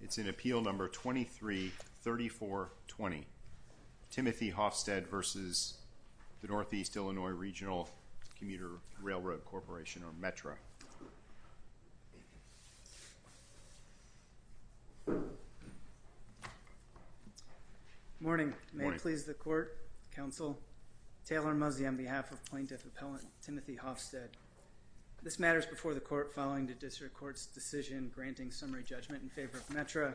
It's in Appeal No. 23-3420, Timothy Hoffstead v. Northeast Illinois Regional Commuter Railroad Corporation, or METRA. Morning. May it please the Court, Counsel, Taylor Muzzi on behalf of Plaintiff Appellant Timothy Hoffstead. This matter is before the Court following the District Court's decision granting summary judgment in favor of METRA.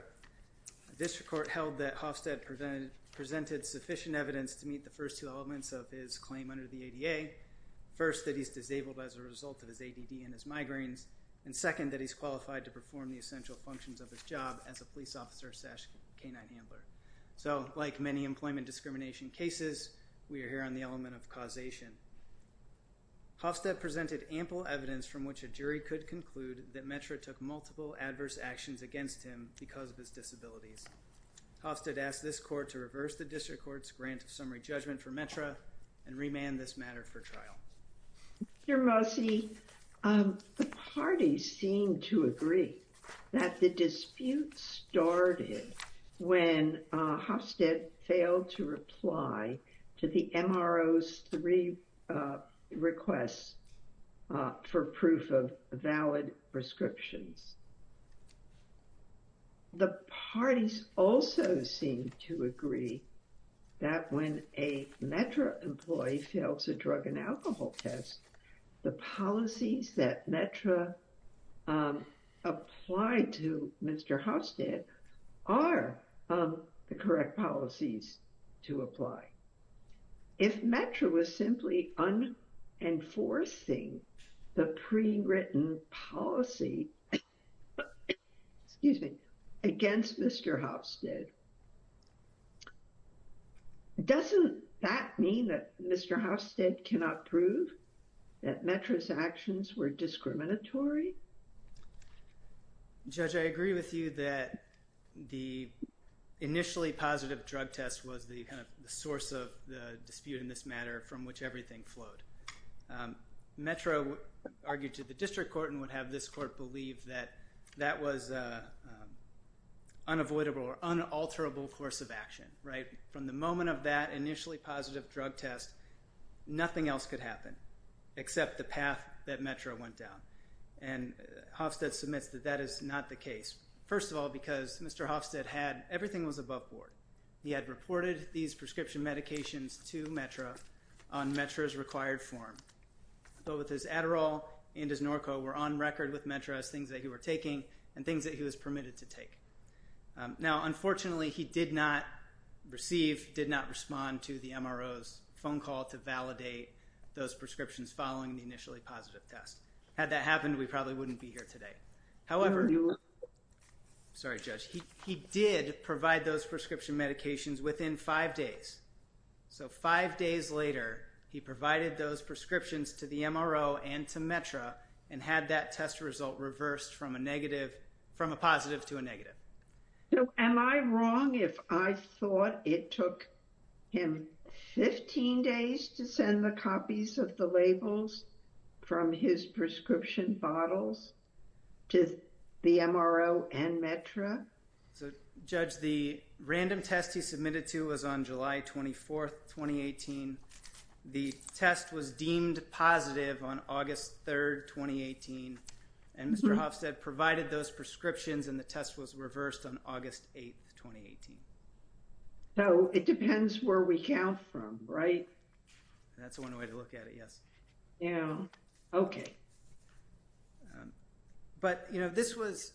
The District Court held that Hoffstead presented sufficient evidence to meet the first two elements of his claim under the ADA. First, that he's disabled as a result of his ADD and his migraines. And second, that he's qualified to perform the essential functions of his job as a police officer-canine handler. So, like many employment discrimination cases, we are here on the element of causation. Hoffstead presented ample evidence from which a jury could conclude that METRA took multiple adverse actions against him because of his disabilities. Hoffstead asked this Court to reverse the District Court's grant of summary judgment for METRA and remand this matter for trial. Mr. Muzzi, the parties seem to agree that the dispute started when Hoffstead failed to reply to the MRO's three requests for proof of valid prescriptions. The parties also seem to agree that when a METRA employee fails a drug and alcohol test, the policies that METRA applied to Mr. Hoffstead are the correct policies to apply. If METRA was simply unenforcing the pre-written policy against Mr. Hoffstead, doesn't that mean that Mr. Hoffstead cannot prove that METRA's actions were discriminatory? Judge, I agree with you that the initially positive drug test was the source of the dispute in this matter from which everything flowed. METRA argued to the District Court and would have this Court believe that that was an unavoidable or unalterable course of action. From the moment of that initially positive drug test, nothing else could happen except the path that METRA went down. And Hoffstead submits that that is not the case. First of all, because Mr. Hoffstead had, everything was above board. He had reported these prescription medications to METRA on METRA's required form. Both his Adderall and his Norco were on record with METRA as things that he were taking and things that he was permitted to take. Now, unfortunately, he did not receive, did not respond to the MRO's phone call to validate those prescriptions following the initially positive test. Had that happened, we probably wouldn't be here today. However, sorry, Judge, he did provide those prescription medications within five days. So five days later, he provided those prescriptions to the MRO and to METRA and had that test result reversed from a negative, from a positive to a negative. Am I wrong if I thought it took him 15 days to send the copies of the labels from his prescription bottles to the MRO and METRA? So Judge, the random test he submitted to was on July 24th, 2018. The test was deemed positive on August 3rd, 2018. And Mr. Hofstadt provided those prescriptions and the test was reversed on August 8th, 2018. So it depends where we count from, right? That's one way to look at it, yes. Yeah, okay. But, you know, this was,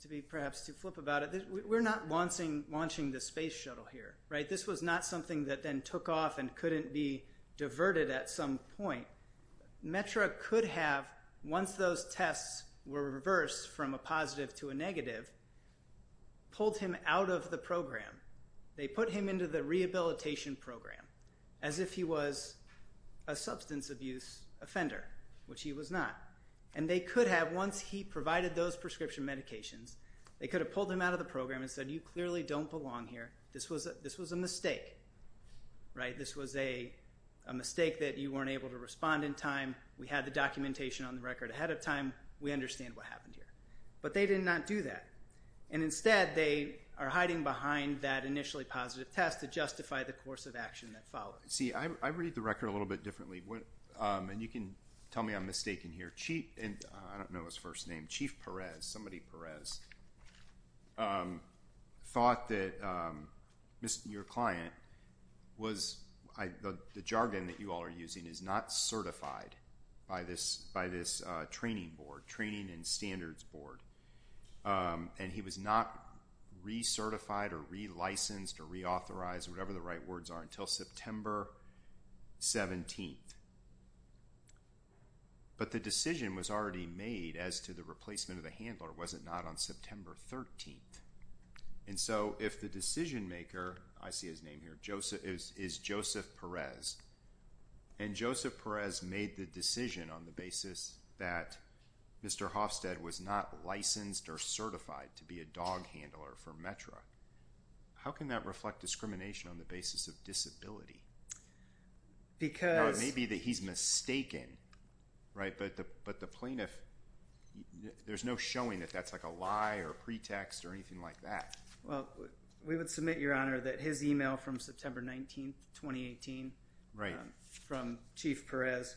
to be perhaps too flip about it, we're not launching the space shuttle here, right? This was not something that then took off and couldn't be diverted at some point. METRA could have, once those tests were reversed from a positive to a negative, pulled him out of the program. They put him into the rehabilitation program as if he was a substance abuse offender, which he was not. And they could have, once he provided those prescription medications, they could have pulled him out of the program and said, you clearly don't belong here. This was a mistake, right? This was a mistake that you weren't able to respond in time. We had the documentation on the record ahead of time. We understand what happened here. But they did not do that. And instead, they are hiding behind that initially positive test to justify the course of action that followed. See, I read the record a little bit differently. And you can tell me I'm mistaken here. I don't know his first name. Chief Perez, somebody Perez, thought that your client was, the jargon that you all are using, is not certified by this training board, training and standards board. And he was not recertified or relicensed or reauthorized, whatever the right words are, until September 17th. But the decision was already made as to the replacement of the handler, was it not, on September 13th. And so if the decision maker, I see his name here, is Joseph Perez, and Joseph Perez made the decision on the basis that Mr. Hofstede was not licensed or certified to be a dog handler for METRA, how can that reflect discrimination on the basis of disability? No, it may be that he's mistaken, right? But the plaintiff, there's no showing that that's like a lie or pretext or anything like that. Well, we would submit, Your Honor, that his email from September 19th, 2018, from Chief Perez,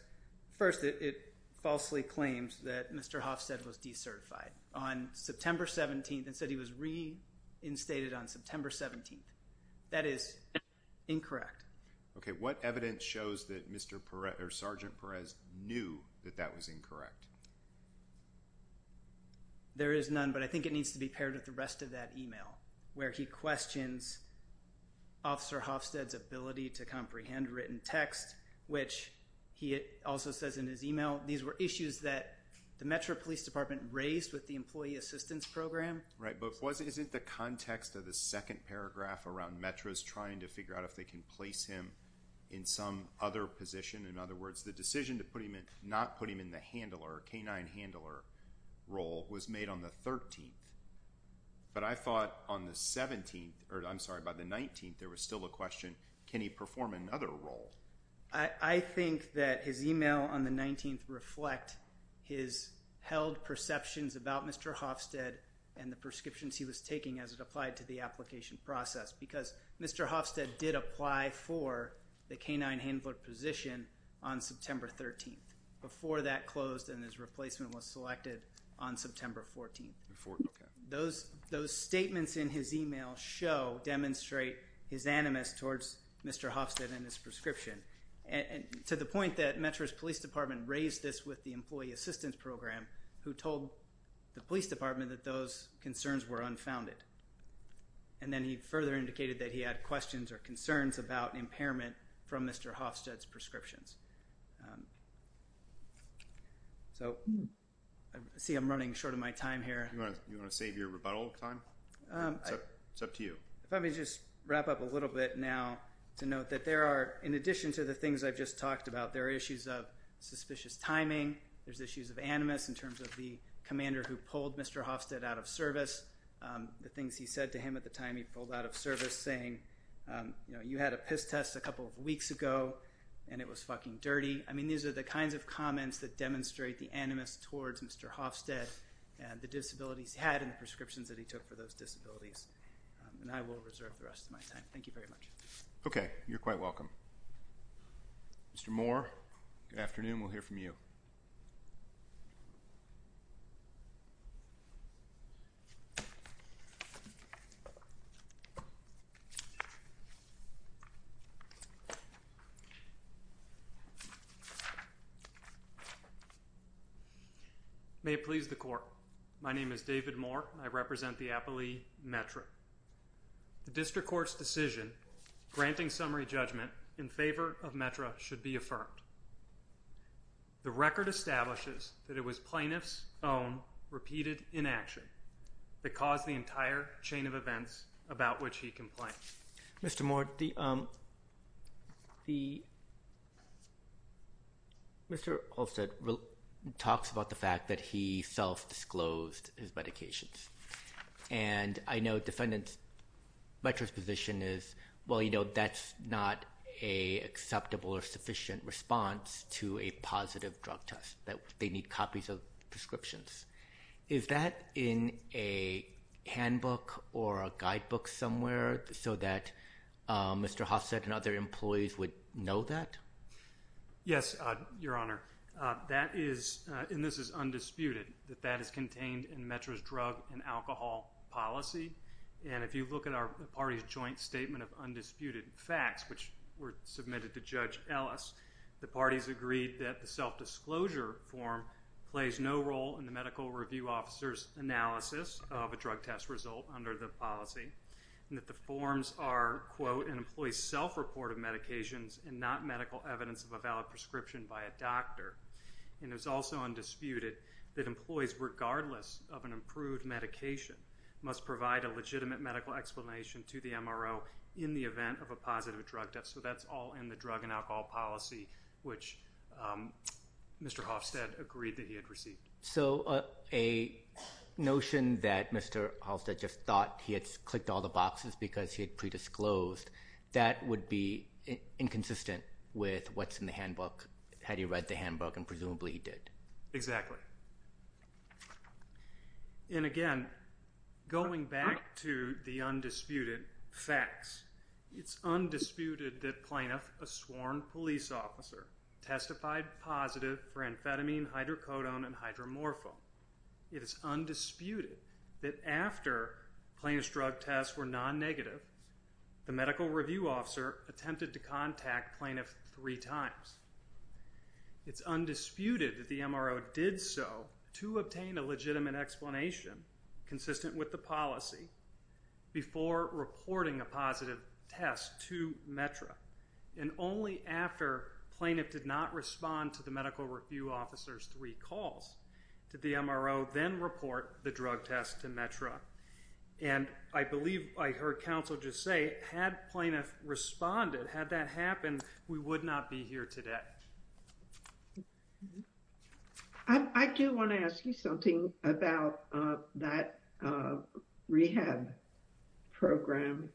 first, it falsely claims that Mr. Hofstede was decertified on September 17th and said he was reinstated on September 17th. That is incorrect. Okay, what evidence shows that Mr. Perez, or Sergeant Perez, knew that that was incorrect? There is none, but I think it needs to be paired with the rest of that email, where he questions Officer Hofstede's ability to comprehend written text, which he also says in his email, these were issues that the METRA Police Department raised with the Employee Assistance Program. Right, but is it the context of the second paragraph around METRA's trying to figure out if they can place him in some other position? In other words, the decision to not put him in the handler, canine handler role, was made on the 13th. But I thought on the 17th, or I'm sorry, by the 19th, there was still a question, can he perform another role? I think that his email on the 19th reflect his held perceptions about Mr. Hofstede and the prescriptions he was taking as it applied to the application process, because Mr. Hofstede did apply for the canine handler position on September 13th. Before that closed and his replacement was selected on September 14th. Those statements in his email show, demonstrate his animus towards Mr. Hofstede and his prescription, to the point that METRA's Police Department raised this with the Employee Assistance Program, who told the Police Department that those concerns were unfounded. And then he further indicated that he had questions or concerns about impairment from Mr. Hofstede's prescriptions. So, I see I'm running short of my time here. You want to save your rebuttal time? It's up to you. If I may just wrap up a little bit now, to note that there are, in addition to the things I've just talked about, there are issues of suspicious timing, there's issues of animus in terms of the commander who pulled Mr. Hofstede out of service. The things he said to him at the time he pulled out of service saying, you know, you had a piss test a couple of weeks ago and it was fucking dirty. I mean, these are the kinds of comments that demonstrate the animus towards Mr. Hofstede and the disabilities he had and the prescriptions that he took for those disabilities. And I will reserve the rest of my time. Thank you very much. Okay. You're quite welcome. Mr. Moore, good afternoon. We'll hear from you. May it please the Court. My name is David Moore. I represent the Appley METRA. The District Court's decision granting summary judgment in favor of METRA should be affirmed. The record establishes that it was plaintiff's own repeated inaction that caused the entire chain of events about which he complained. Mr. Moore, Mr. Hofstede talks about the fact that he self-disclosed his medications. And I know defendants' METRA's position is, well, you know, that's not an acceptable or sufficient response to a positive drug test, that they need copies of prescriptions. Is that in a handbook or a guidebook somewhere so that Mr. Hofstede and other employees would know that? Yes, Your Honor. That is, and this is undisputed, that that is contained in METRA's drug and alcohol policy. And if you look at our party's joint statement of undisputed facts, which were submitted to Judge Ellis, the parties agreed that the self-disclosure form plays no role in the medical review officer's analysis of a drug test result under the policy, and that the forms are, quote, an employee's self-report of medications and not medical evidence of a valid prescription by a doctor. And it was also undisputed that employees, regardless of an approved medication, must provide a legitimate medical explanation to the MRO in the event of a positive drug test. So that's all in the drug and alcohol policy, which Mr. Hofstede agreed that he had received. So a notion that Mr. Hofstede just thought he had clicked all the boxes because he had predisclosed, that would be inconsistent with what's in the handbook, had he read the handbook, and presumably he did. And again, going back to the undisputed facts, it's undisputed that Plaintiff, a sworn police officer, testified positive for amphetamine, hydrocodone, and hydromorphone. It is undisputed that after plaintiff's drug tests were non-negative, the medical review officer attempted to contact Plaintiff three times. It's undisputed that the MRO did so to obtain a legitimate explanation, consistent with the policy, before reporting a positive test to METRA. And only after Plaintiff did not respond to the medical review officer's three calls did the MRO then report the drug test to METRA. And I believe I heard counsel just say, had Plaintiff responded, had that happened, we would not be here today. I do want to ask you something about that rehab program.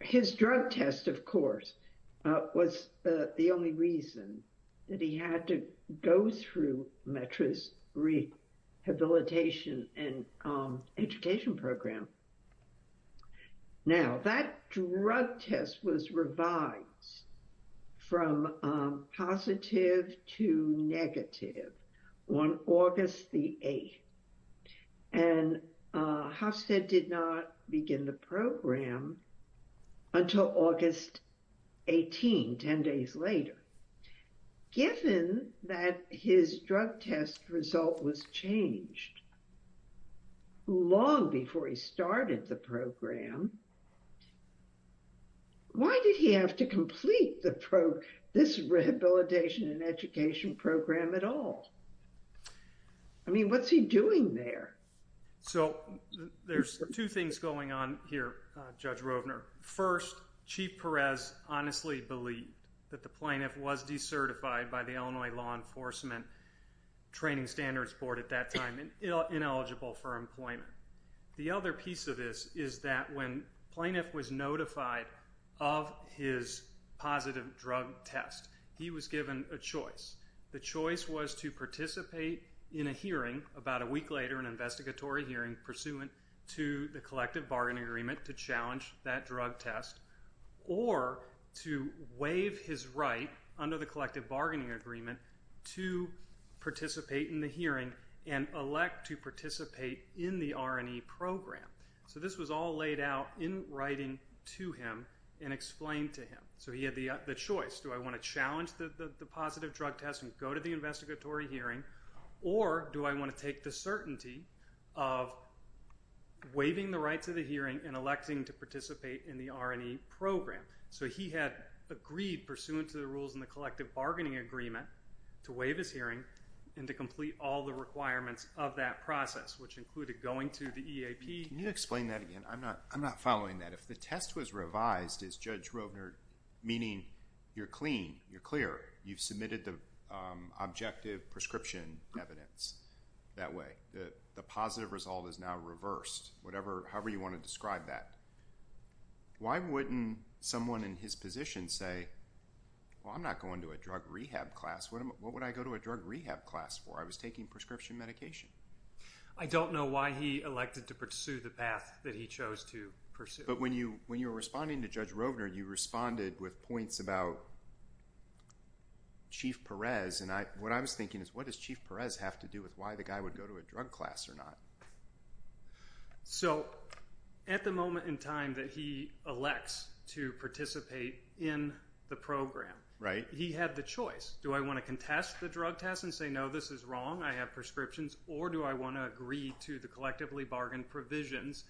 His drug test, of course, was the only reason that he had to go through METRA's rehabilitation and education program. Now, that drug test was revised from positive to negative on August the 8th. And Hofstede did not begin the program until August 18, 10 days later. Given that his drug test result was changed long before he started the program, why did he have to complete this rehabilitation and education program at all? I mean, what's he doing there? So, there's two things going on here, Judge Rovner. First, Chief Perez honestly believed that the Plaintiff was decertified by the Illinois Law Enforcement Training Standards Board at that time, ineligible for employment. The other piece of this is that when Plaintiff was notified of his positive drug test, he was given a choice. The choice was to participate in a hearing about a week later, an investigatory hearing, pursuant to the collective bargaining agreement to challenge that drug test, or to waive his right under the collective bargaining agreement to participate in the hearing and elect to participate in the R&E program. So, this was all laid out in writing to him and explained to him. So, he had the choice. Do I want to challenge the positive drug test and go to the investigatory hearing, or do I want to take the certainty of waiving the right to the hearing and electing to participate in the R&E program? So, he had agreed, pursuant to the rules in the collective bargaining agreement, to waive his hearing and to complete all the requirements of that process, which included going to the EAP. Can you explain that again? I'm not following that. If the test was revised, as Judge Rovner, meaning you're clean, you're clear, you've submitted the objective prescription evidence that way, the positive result is now reversed, however you want to describe that. Why wouldn't someone in his position say, well, I'm not going to a drug rehab class. What would I go to a drug rehab class for? I was taking prescription medication. I don't know why he elected to pursue the path that he chose to pursue. But when you were responding to Judge Rovner, you responded with points about Chief Perez, and what I was thinking is, what does Chief Perez have to do with why the guy would go to a drug class or not? So, at the moment in time that he elects to participate in the program, he had the choice. Do I want to contest the drug test and say, no, this is wrong, I have prescriptions, or do I want to agree to the collectively bargained provisions?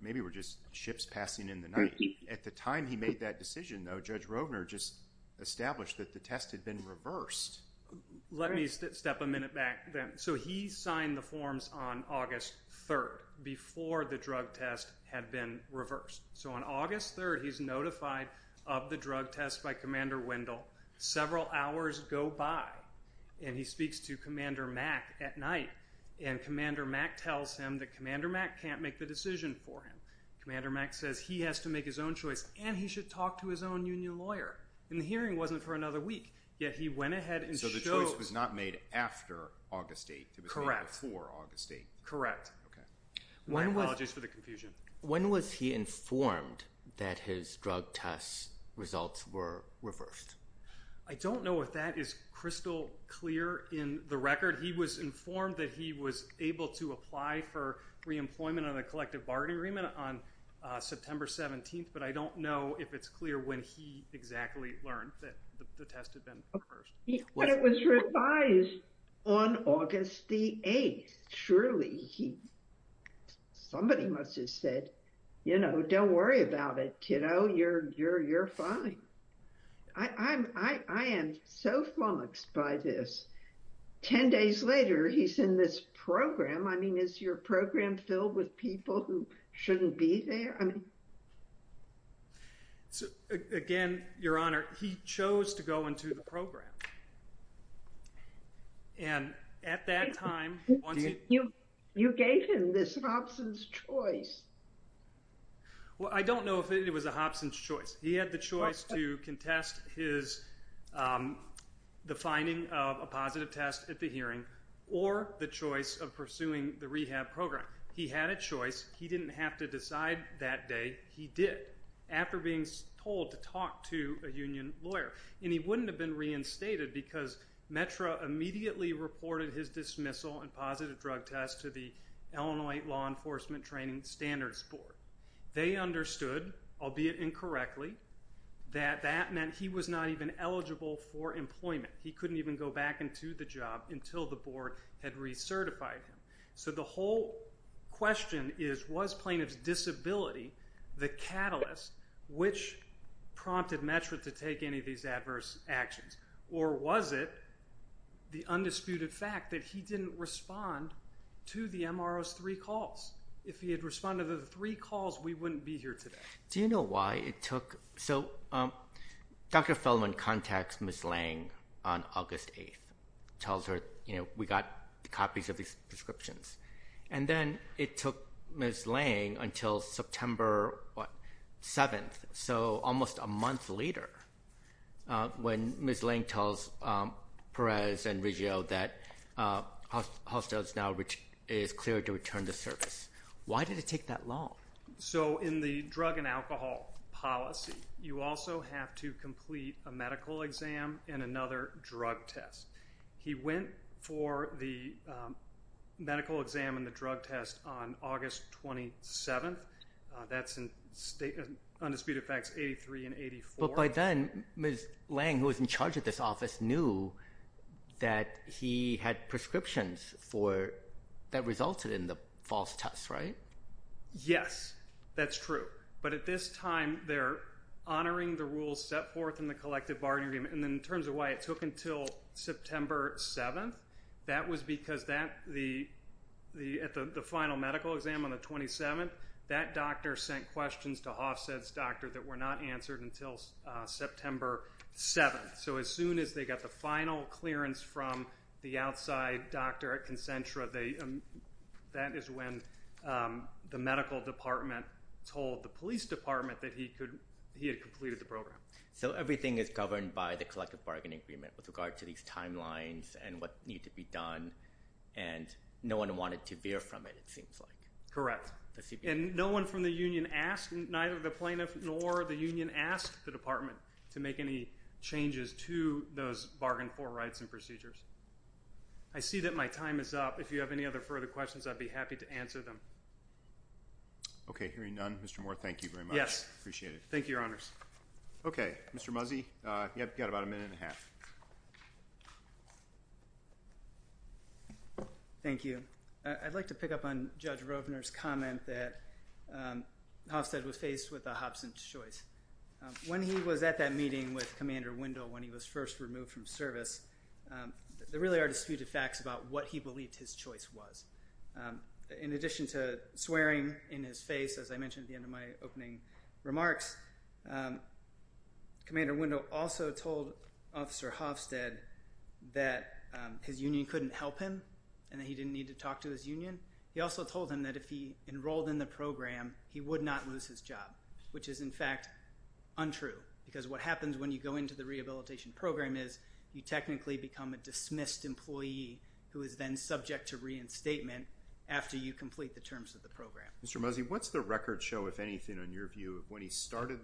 Maybe we're just ships passing in the night. At the time he made that decision, though, Judge Rovner just established that the test had been reversed. Let me step a minute back then. So he signed the forms on August 3rd, before the drug test had been reversed. So on August 3rd, he's notified of the drug test by Commander Wendell. Several hours go by, and he speaks to Commander Mack at night, and Commander Mack tells him that Commander Mack can't make the decision for him. Commander Mack says he has to make his own choice, and he should talk to his own union lawyer. And the hearing wasn't for another week, yet he went ahead and showed— So the choice was not made after August 8th, it was made before August 8th. Correct. My apologies for the confusion. When was he informed that his drug test results were reversed? I don't know if that is crystal clear in the record. He was informed that he was able to apply for reemployment on a collective bargaining agreement on September 17th, but I don't know if it's clear when he exactly learned that the test had been reversed. But it was revised on August 8th. Surely he—somebody must have said, you know, don't worry about it, kiddo. You're fine. I am so flummoxed by this. Ten days later, he's in this program. I mean, is your program filled with people who shouldn't be there? Again, Your Honor, he chose to go into the program. And at that time— You gave him this Hobson's Choice. Well, I don't know if it was a Hobson's Choice. He had the choice to contest his—the finding of a positive test at the hearing or the choice of pursuing the rehab program. He had a choice. He didn't have to decide that day. He did after being told to talk to a union lawyer. And he wouldn't have been reinstated because METRA immediately reported his dismissal and positive drug test to the Illinois Law Enforcement Training Standards Board. They understood, albeit incorrectly, that that meant he was not even eligible for employment. He couldn't even go back into the job until the board had recertified him. So the whole question is, was plaintiff's disability the catalyst which prompted METRA to take any of these adverse actions? Or was it the undisputed fact that he didn't respond to the MRO's three calls? If he had responded to the three calls, we wouldn't be here today. Do you know why it took—so Dr. Feldman contacts Ms. Lange on August 8th. Tells her, you know, we got copies of these prescriptions. And then it took Ms. Lange until September 7th, so almost a month later, when Ms. Lange tells Perez and Riggio that Hostos now is cleared to return to service. Why did it take that long? So in the drug and alcohol policy, you also have to complete a medical exam and another drug test. He went for the medical exam and the drug test on August 27th. That's in Undisputed Facts 83 and 84. But by then, Ms. Lange, who was in charge of this office, knew that he had prescriptions that resulted in the false test, right? Yes, that's true. But at this time, they're honoring the rules set forth in the collective bargaining agreement. And in terms of why it took until September 7th, that was because at the final medical exam on the 27th, that doctor sent questions to Hofstad's doctor that were not answered until September 7th. So as soon as they got the final clearance from the outside doctor at Concentra, that is when the medical department told the police department that he had completed the program. So everything is governed by the collective bargaining agreement with regard to these timelines and what needs to be done, and no one wanted to veer from it, it seems like. Correct. And no one from the union asked, neither the plaintiff nor the union, asked the department to make any changes to those bargain for rights and procedures. I see that my time is up. If you have any other further questions, I'd be happy to answer them. Okay, hearing none, Mr. Moore, thank you very much. Yes. Appreciate it. Thank you, Your Honors. Okay, Mr. Muzzi, you've got about a minute and a half. Thank you. I'd like to pick up on Judge Rovner's comment that Hofstad was faced with a Hobson's choice. When he was at that meeting with Commander Wendell when he was first removed from service, there really are disputed facts about what he believed his choice was. In addition to swearing in his face, as I mentioned at the end of my opening remarks, Commander Wendell also told Officer Hofstad that his union couldn't help him and that he didn't need to talk to his union. He also told him that if he enrolled in the program, he would not lose his job, which is, in fact, untrue because what happens when you go into the rehabilitation program is you technically become a dismissed employee who is then subject to reinstatement after you complete the terms of the program. Mr. Muzzi, what's the record show, if anything, in your view, of when he started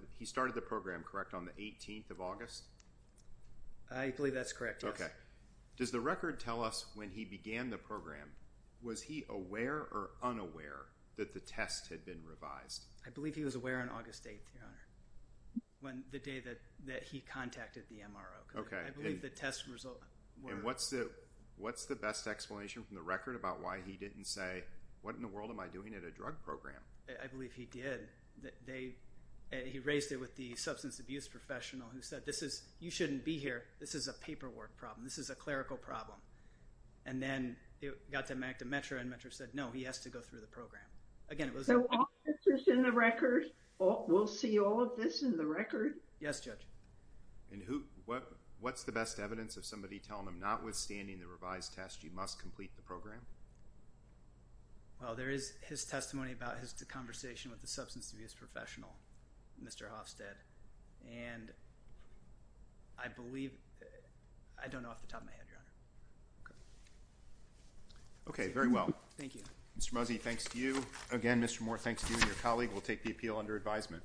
the program, correct, on the 18th of August? I believe that's correct, yes. Okay. Does the record tell us when he began the program, was he aware or unaware that the test had been revised? I believe he was aware on August 8th, Your Honor, the day that he contacted the MRO. Okay. I believe the test results were— And what's the best explanation from the record about why he didn't say, what in the world am I doing at a drug program? I believe he did. He raised it with the substance abuse professional who said, you shouldn't be here, this is a paperwork problem, this is a clerical problem. And then it got to Metro and Metro said, no, he has to go through the program. Again, it was— So all of this is in the record? We'll see all of this in the record? Yes, Judge. And what's the best evidence of somebody telling him, notwithstanding the revised test, you must complete the program? Well, there is his testimony about his conversation with the substance abuse professional, Mr. Hofstad, and I believe—I don't know off the top of my head, Your Honor. Okay. Okay, very well. Thank you. Mr. Mosey, thanks to you. Again, Mr. Moore, thanks to you and your colleague. We'll take the appeal under advisement.